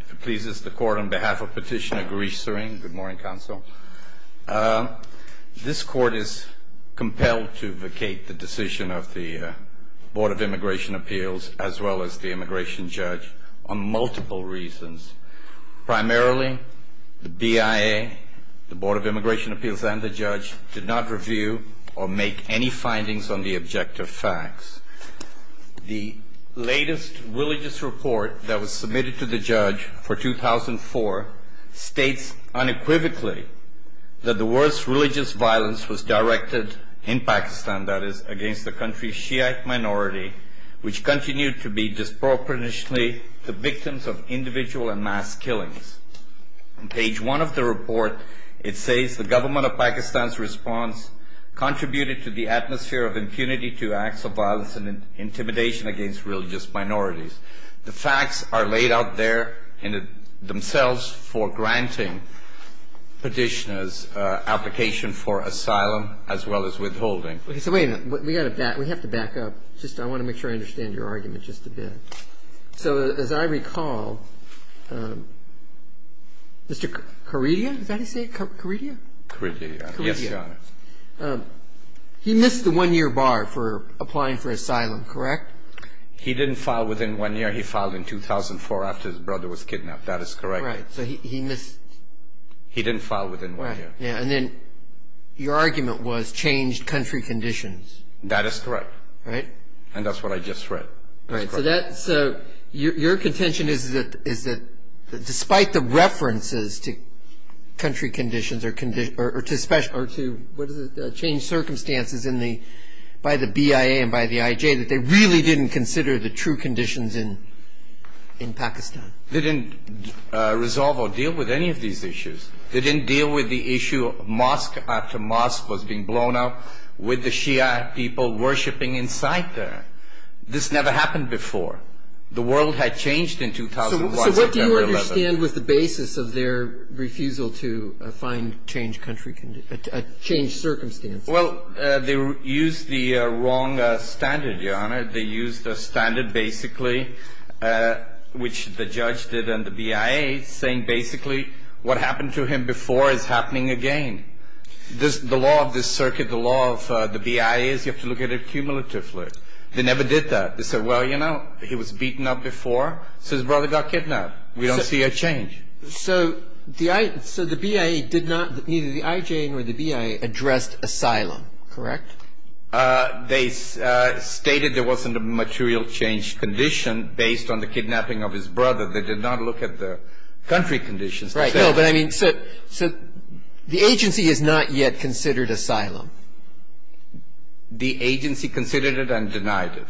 If it pleases the Court, on behalf of Petitioner Gaurish Suring, good morning, Counsel. This Court is compelled to vacate the decision of the Board of Immigration Appeals, as well as the Immigration Judge, on multiple reasons. Primarily, the BIA, the Board of Immigration Appeals, and the Judge did not review or make any findings on the objective facts. The latest religious report that was submitted to the Judge for 2004 states unequivocally that the worst religious violence was directed, in Pakistan that is, against the country's Shiite minority, which continued to be disproportionately the victims of individual and mass killings. On page one of the report, it says the government of Pakistan's response contributed to the atmosphere of impunity to acts of violence and intimidation against religious minorities. The facts are laid out there themselves for granting Petitioner's application for asylum, as well as withholding. So wait a minute, we have to back up. I want to make sure I understand your argument just a bit. So as I recall, Mr. Karedia, is that how you say it? Karedia? Karedia, yes, Your Honor. He missed the one-year bar for applying for asylum, correct? He didn't file within one year. He filed in 2004 after his brother was kidnapped. That is correct. Right. So he missed. He didn't file within one year. And then your argument was changed country conditions. That is correct. Right. And that's what I just read. Right. So your contention is that despite the references to country conditions or to change circumstances by the BIA and by the IJ, that they really didn't consider the true conditions in Pakistan? They didn't resolve or deal with any of these issues. They didn't deal with the issue of mosque after mosque was being blown up, with the Shia people worshiping inside there. This never happened before. The world had changed in 2001. So what do you understand was the basis of their refusal to find changed circumstances? They used a standard basically, which the judge did and the BIA, saying basically what happened to him before is happening again. The law of this circuit, the law of the BIA is you have to look at it cumulatively. They never did that. They said, well, you know, he was beaten up before, so his brother got kidnapped. We don't see a change. So the BIA did not, neither the IJ nor the BIA addressed asylum, correct? They stated there wasn't a material change condition based on the kidnapping of his brother. They did not look at the country conditions. Right. No, but I mean, so the agency has not yet considered asylum. The agency considered it and denied it.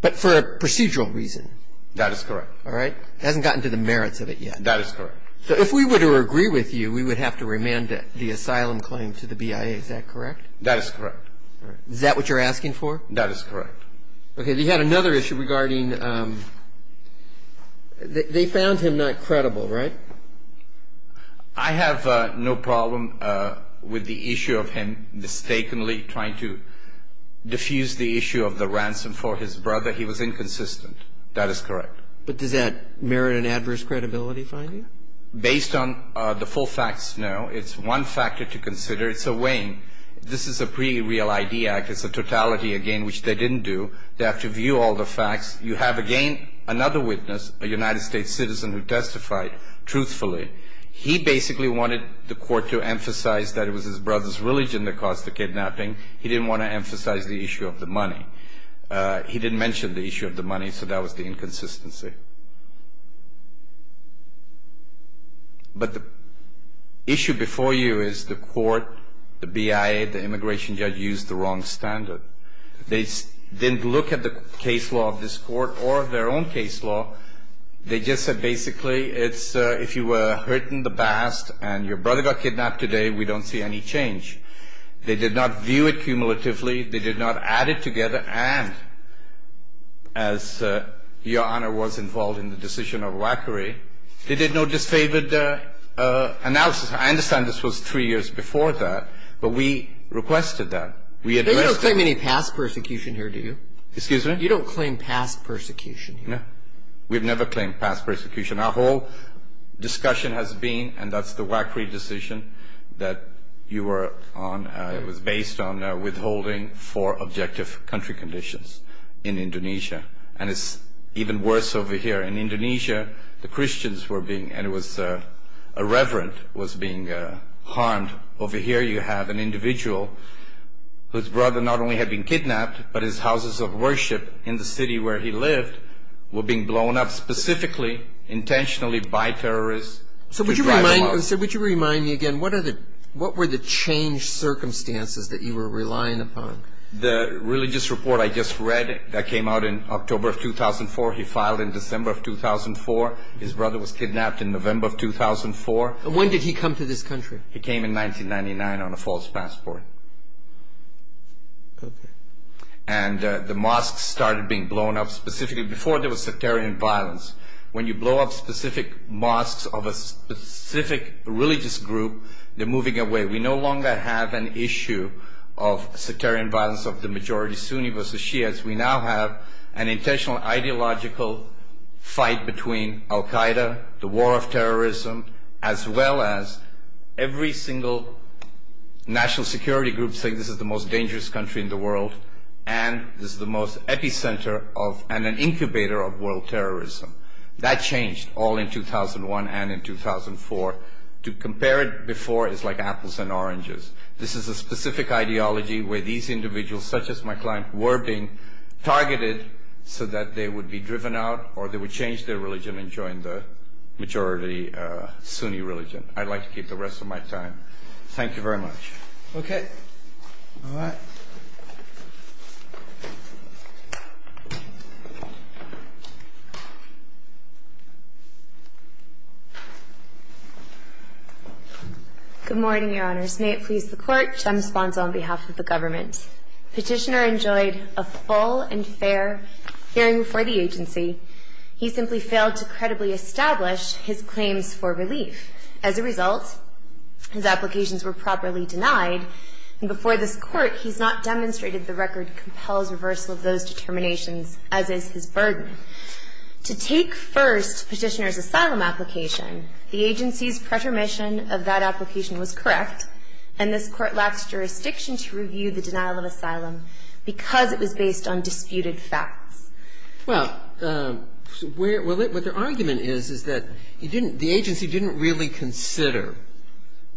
But for a procedural reason. That is correct. All right. It hasn't gotten to the merits of it yet. That is correct. So if we were to agree with you, we would have to remand the asylum claim to the BIA. Is that correct? That is correct. Is that what you're asking for? That is correct. Okay. They had another issue regarding they found him not credible, right? I have no problem with the issue of him mistakenly trying to diffuse the issue of the ransom for his brother. He was inconsistent. That is correct. But does that merit an adverse credibility finding? Based on the full facts, no. It's one factor to consider. It's a weighing. This is a pre-real ID act. It's a totality, again, which they didn't do. They have to view all the facts. You have, again, another witness, a United States citizen who testified truthfully. He basically wanted the court to emphasize that it was his brother's religion that caused the kidnapping. He didn't want to emphasize the issue of the money. He didn't mention the issue of the money, so that was the inconsistency. But the issue before you is the court, the BIA, the immigration judge used the wrong standard. They didn't look at the case law of this court or their own case law. They just said basically it's if you were hurting the past and your brother got kidnapped today, we don't see any change. They did not view it cumulatively. They did not add it together. And as Your Honor was involved in the decision of WACRI, they did no disfavored analysis. I understand this was three years before that, but we requested that. We addressed it. You don't claim any past persecution here, do you? Excuse me? You don't claim past persecution here? No. We've never claimed past persecution. Our whole discussion has been, and that's the WACRI decision that you were on. It was based on withholding for objective country conditions in Indonesia. And it's even worse over here. In Indonesia, the Christians were being, and it was a reverend was being harmed. Over here you have an individual whose brother not only had been kidnapped, but his houses of worship in the city where he lived were being blown up specifically, intentionally by terrorists to drive them out. Would you remind me again, what were the changed circumstances that you were relying upon? The religious report I just read that came out in October of 2004, he filed in December of 2004. His brother was kidnapped in November of 2004. When did he come to this country? He came in 1999 on a false passport. And the mosques started being blown up specifically before there was sectarian violence. When you blow up specific mosques of a specific religious group, they're moving away. We no longer have an issue of sectarian violence of the majority Sunni versus Shias. We now have an intentional ideological fight between Al-Qaeda, the war of terrorism, as well as every single national security group saying this is the most dangerous country in the world and this is the most epicenter and an incubator of world terrorism. That changed all in 2001 and in 2004. To compare it before is like apples and oranges. This is a specific ideology where these individuals, such as my client, were being targeted so that they would be driven out or they would change their religion and join the majority Sunni religion. I'd like to keep the rest of my time. Thank you very much. Okay. All right. Good morning, Your Honors. May it please the Court. Jem Sponzo on behalf of the government. Petitioner enjoyed a full and fair hearing for the agency. He simply failed to credibly establish his claims for relief. As a result, his applications were properly denied. And before this Court, he's not demonstrated the record compels reversal of those determinations, as is his burden. To take first Petitioner's asylum application, the agency's pretermission of that application was correct and this Court lacked jurisdiction to review the denial of asylum because it was based on disputed facts. Well, what their argument is is that the agency didn't really consider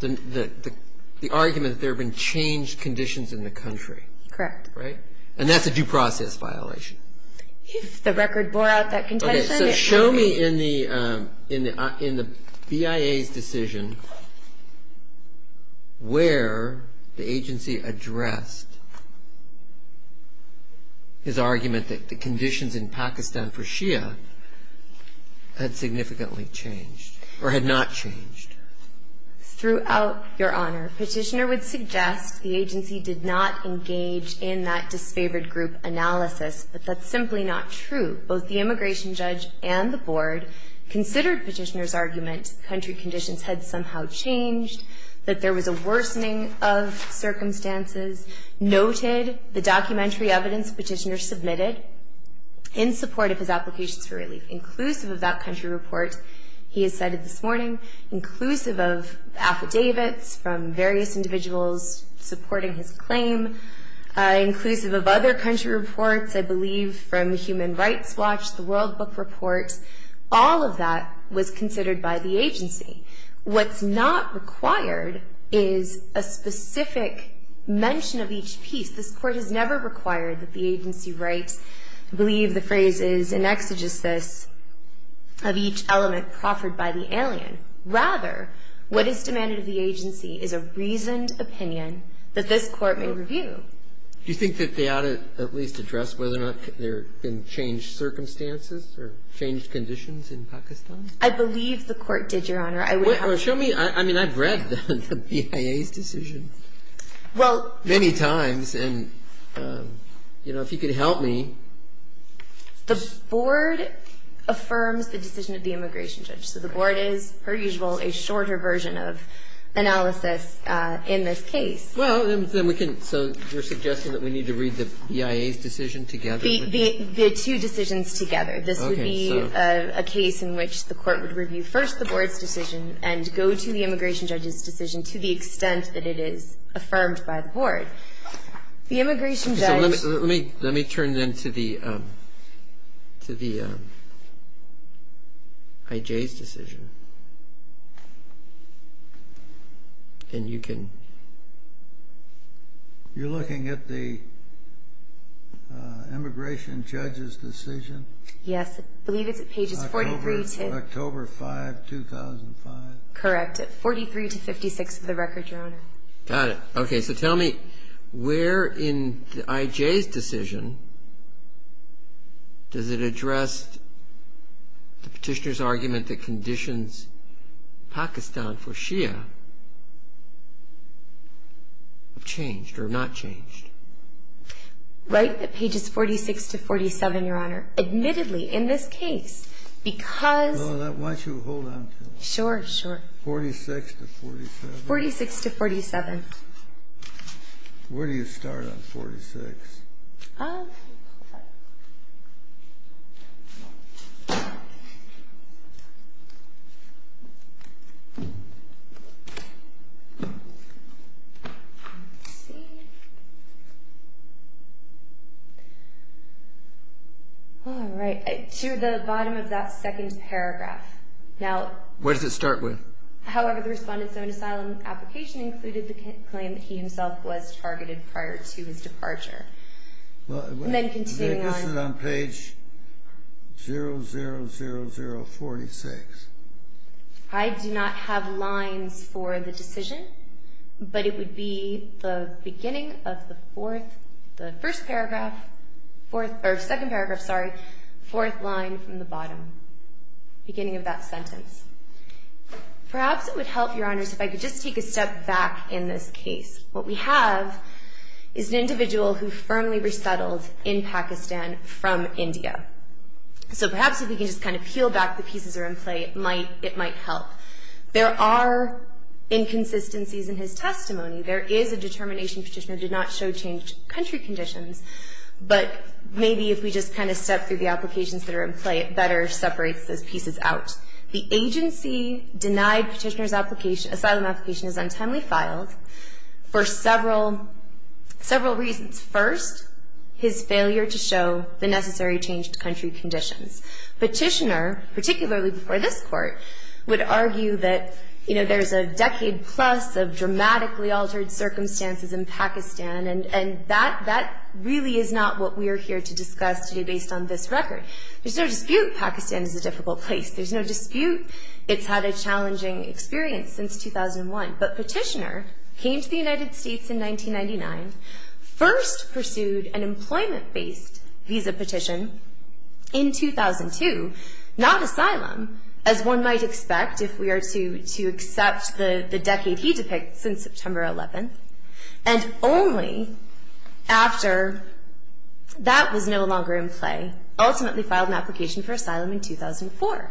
the argument that there have been changed conditions in the country. Correct. Right? And that's a due process violation. If the record bore out that condition. So show me in the BIA's decision where the agency addressed his argument that the conditions in Pakistan for Shia had significantly changed or had not changed. Throughout, Your Honor, Petitioner would suggest the agency did not engage in that disfavored group analysis, but that's simply not true. Both the immigration judge and the board considered Petitioner's argument country conditions had somehow changed, that there was a worsening of circumstances, noted the documentary evidence Petitioner submitted in support of his applications for relief, inclusive of that country report he has cited this morning, inclusive of affidavits from various individuals supporting his claim, inclusive of other country reports, I believe, from Human Rights Watch, the World Book Report. All of that was considered by the agency. What's not required is a specific mention of each piece. This Court has never required that the agency write, I believe the phrase is, an exegesis of each element proffered by the alien. Rather, what is demanded of the agency is a reasoned opinion that this Court may review. Do you think that they ought to at least address whether or not there have been changed circumstances or changed conditions in Pakistan? I believe the Court did, Your Honor. Show me. I mean, I've read the BIA's decision many times. And, you know, if you could help me. The board affirms the decision of the immigration judge. So the board is, per usual, a shorter version of analysis in this case. Well, then we can, so you're suggesting that we need to read the BIA's decision together? The two decisions together. This would be a case in which the Court would review first the board's decision and go to the immigration judge's decision to the extent that it is affirmed by the board. The immigration judge. Let me turn, then, to the IJ's decision. And you can. You're looking at the immigration judge's decision? Yes. I believe it's at pages 43 to. October 5, 2005. Correct. At 43 to 56 of the record, Your Honor. Got it. Okay. So tell me, where in the IJ's decision does it address the Petitioner's argument that conditions Pakistan for Shia have changed or not changed? Right at pages 46 to 47, Your Honor. Admittedly, in this case, because. Why don't you hold on to it? Sure, sure. 46 to 47. 46 to 47. Where do you start on 46? All right. To the bottom of that second paragraph. Where does it start with? However, the Respondent's own asylum application included the claim that he himself was targeted prior to his departure. And then continuing on. This is on page 00046. I do not have lines for the decision, but it would be the beginning of the fourth, the first paragraph, or second paragraph, sorry, fourth line from the So perhaps if we can just kind of peel back the pieces that are in play, it might help. There are inconsistencies in his testimony. There is a determination Petitioner did not show changed country conditions, but maybe if we just kind of step through the applications that are in play, it asylum application is untimely filed for several reasons. First, his failure to show the necessary changed country conditions. Petitioner, particularly before this Court, would argue that, you know, there's a decade plus of dramatically altered circumstances in Pakistan, and that really is not what we are here to discuss today based on this record. There's no dispute Pakistan is a difficult place. There's no dispute it's had a challenging experience since 2001. But Petitioner came to the United States in 1999, first pursued an employment based visa petition in 2002, not asylum, as one might expect if we are to accept the decade he depicts in September 11th, and only after that was no longer in play, ultimately filed an application for asylum in 2004.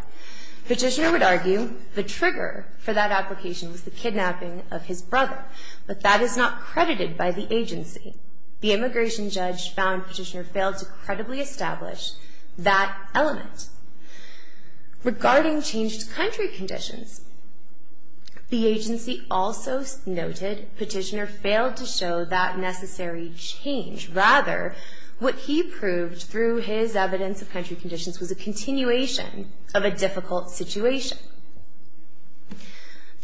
Petitioner would argue the trigger for that application was the kidnapping of his brother, but that is not credited by the agency. The immigration judge found Petitioner failed to credibly establish that element. Regarding changed country conditions, the agency also noted Petitioner failed to establish that his evidence of country conditions was a continuation of a difficult situation.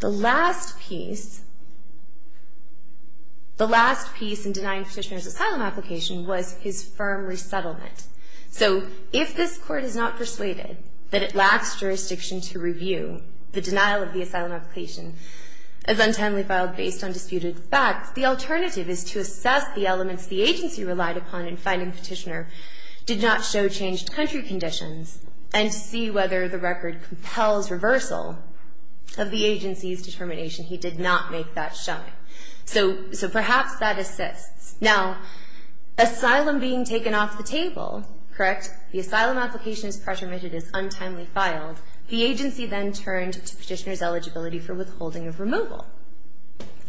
The last piece, the last piece in denying Petitioner's asylum application was his firm resettlement. So if this Court is not persuaded that it lacks jurisdiction to review the denial of the asylum application as untimely filed based on disputed facts, the alternative is to assess the elements the agency relied upon in finding Petitioner did not show changed country conditions, and see whether the record compels reversal of the agency's determination he did not make that showing. So perhaps that assists. Now, asylum being taken off the table, correct? The asylum application is pressure mitted as untimely filed. The agency then turned to Petitioner's eligibility for withholding of removal.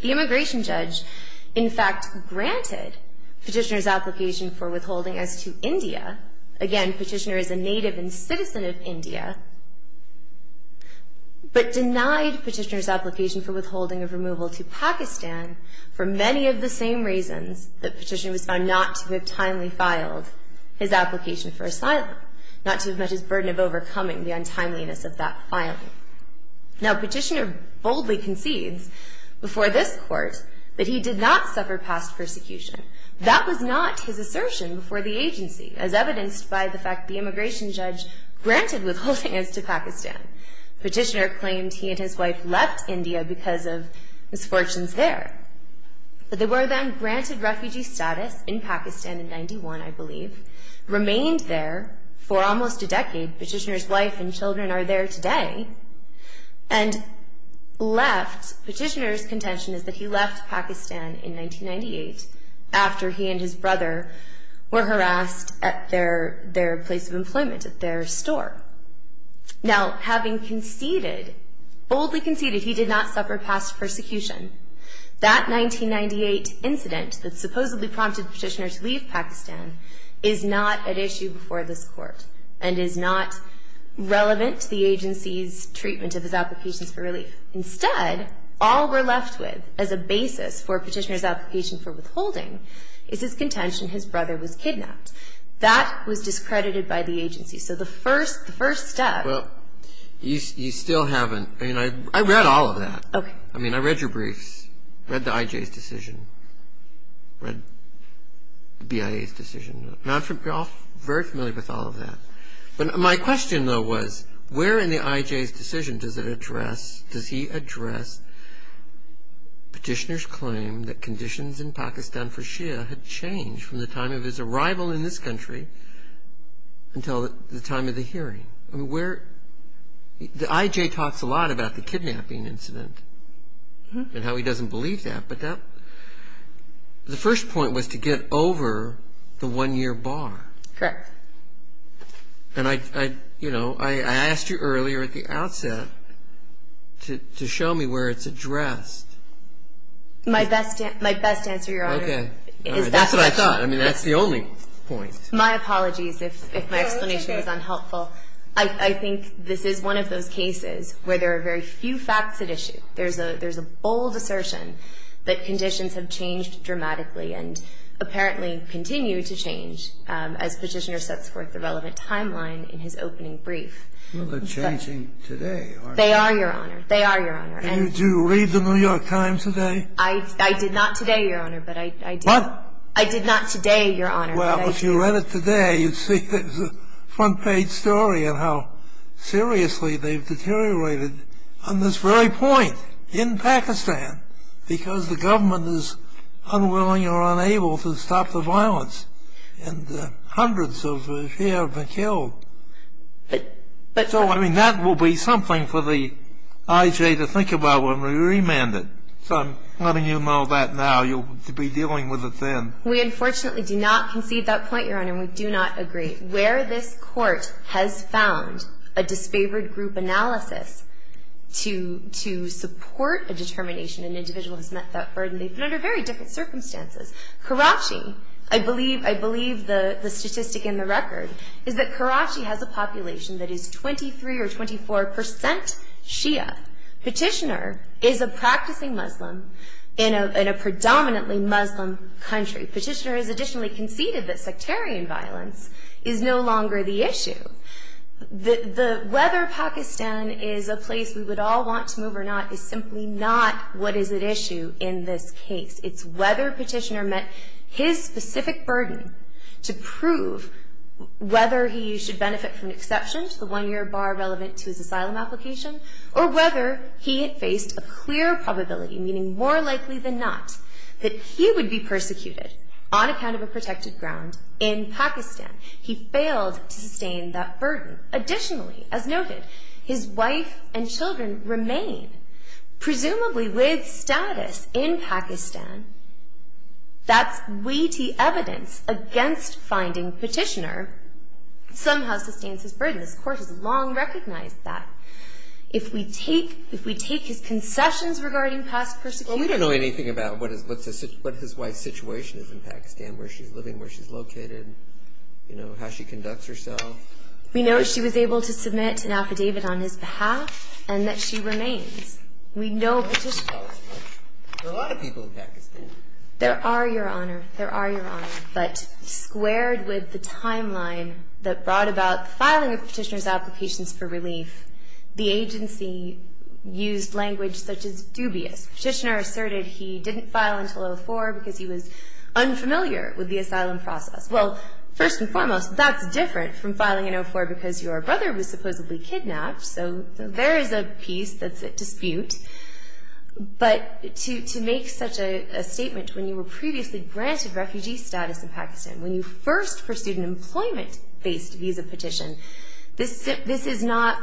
The immigration judge, in fact, granted Petitioner's application for withholding as to India. Again, Petitioner is a native and citizen of India, but denied Petitioner's application for withholding of removal to Pakistan for many of the same reasons that Petitioner was found not to have timely filed his application for asylum, not to have met his burden of overcoming the untimeliness of that filing. Now, Petitioner boldly concedes before this court that he did not suffer past persecution. That was not his assertion before the agency, as evidenced by the fact the immigration judge granted withholding as to Pakistan. Petitioner claimed he and his wife left India because of misfortunes there. But they were then granted refugee status in Pakistan in 91, I believe, remained there for almost a decade. Petitioner's wife and children are there today. And left, Petitioner's contention is that he left Pakistan in 1998 after he and his brother were harassed at their place of employment, at their store. Now, having conceded, boldly conceded he did not suffer past persecution, that 1998 incident that supposedly prompted Petitioner to leave Pakistan is not at issue before this court and is not relevant to the agency's treatment of his applications for relief. Instead, all we're left with as a basis for Petitioner's application for withholding is his contention his brother was kidnapped. That was discredited by the agency. So the first step --" Well, you still haven't. I mean, I read all of that. Okay. I mean, I read your briefs, read the IJ's decision, read the BIA's decision. You're all very familiar with all of that. But my question, though, was where in the IJ's decision does it address, does he address Petitioner's claim that conditions in Pakistan for Shia had changed from the time of his arrival in this country until the time of the hearing? I mean, where the IJ talks a lot about the kidnapping incident and how he doesn't believe that. But the first point was to get over the one-year bar. Correct. And, you know, I asked you earlier at the outset to show me where it's addressed. My best answer, Your Honor, is that question. Okay. That's what I thought. I mean, that's the only point. My apologies if my explanation was unhelpful. I think this is one of those cases where there are very few facts at issue. There's a bold assertion that conditions have changed dramatically and apparently continue to change as Petitioner sets forth the relevant timeline in his opening brief. Well, they're changing today, aren't they? They are, Your Honor. They are, Your Honor. And did you read the New York Times today? I did not today, Your Honor, but I did. What? I did not today, Your Honor, but I did. Well, if you read it today, you'd see that it's a front-page story of how seriously they've deteriorated on this very point in Pakistan because the government is unwilling or unable to stop the violence. And hundreds have been killed. So, I mean, that will be something for the IJ to think about when we remand it. So I'm letting you know that now. You'll be dealing with it then. We unfortunately do not concede that point, Your Honor, and we do not agree. Where this Court has found a disfavored group analysis to support a determination, an individual has met that burden. They've been under very different circumstances. Karachi, I believe the statistic in the record, is that Karachi has a population that is 23 or 24 percent Shia. Petitioner is a practicing Muslim in a predominantly Muslim country. Petitioner has additionally conceded that sectarian violence is no longer the issue. Whether Pakistan is a place we would all want to move or not is simply not what is at issue in this case. It's whether Petitioner met his specific burden to prove whether he should benefit from an exception to the one-year bar relevant to his asylum application or whether he had faced a clear probability, meaning more likely than not, that he would be persecuted on account of a protected ground in Pakistan. He failed to sustain that burden. Additionally, as noted, his wife and children remain presumably with status in Pakistan. That's weighty evidence against finding Petitioner somehow sustains his burden. This Court has long recognized that. If we take his concessions regarding past persecution... Well, we don't know anything about what his wife's situation is in Pakistan, where she's living, where she's located, you know, how she conducts herself. We know she was able to submit an affidavit on his behalf and that she remains. We know Petitioner... There are a lot of people in Pakistan. There are, Your Honor. There are, Your Honor. But squared with the timeline that brought about filing of Petitioner's applications for relief, the agency used language such as dubious. Petitioner asserted he didn't file until 2004 because he was unfamiliar with the asylum process. Well, first and foremost, that's different from filing in 2004 because your brother was supposedly kidnapped, so there is a piece that's at dispute. But to make such a statement when you were previously granted refugee status in Pakistan, when you first pursued an employment-based visa petition, this is not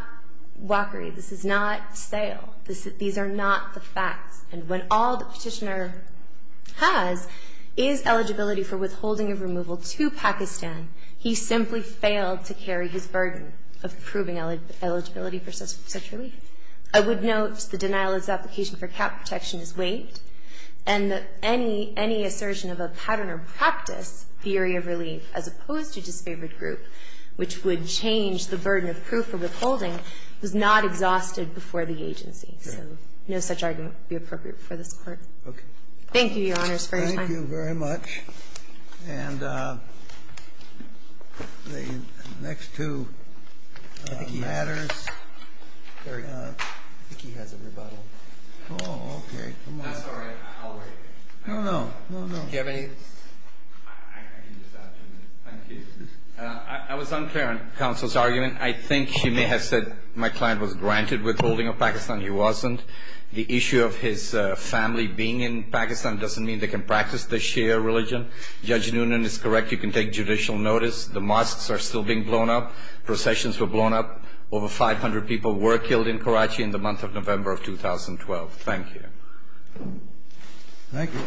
walkery. This is not stale. These are not the facts. And when all that Petitioner has is eligibility for withholding of removal to Pakistan, he simply failed to carry his burden of proving eligibility for such relief. I would note the denial of his application for cap protection is waived and that any assertion of a pattern or practice, theory of relief, as opposed to disfavored group, which would change the burden of proof for withholding, was not exhausted before the agency. So no such argument would be appropriate for this Court. Thank you, Your Honors, for your time. Thank you very much. And the next two matters. I think he has a rebuttal. Oh, okay. I'm sorry. I'll wait. No, no. No, no. Do you have any? I can just add two minutes. Thank you. I was unclear on counsel's argument. I think she may have said my client was granted withholding of Pakistan. He wasn't. The issue of his family being in Pakistan doesn't mean they can practice the Shia religion. Judge Noonan is correct. You can take judicial notice. The mosques are still being blown up. Processions were blown up. Over 500 people were killed in Karachi in the month of November of 2012. Thank you. Thank you.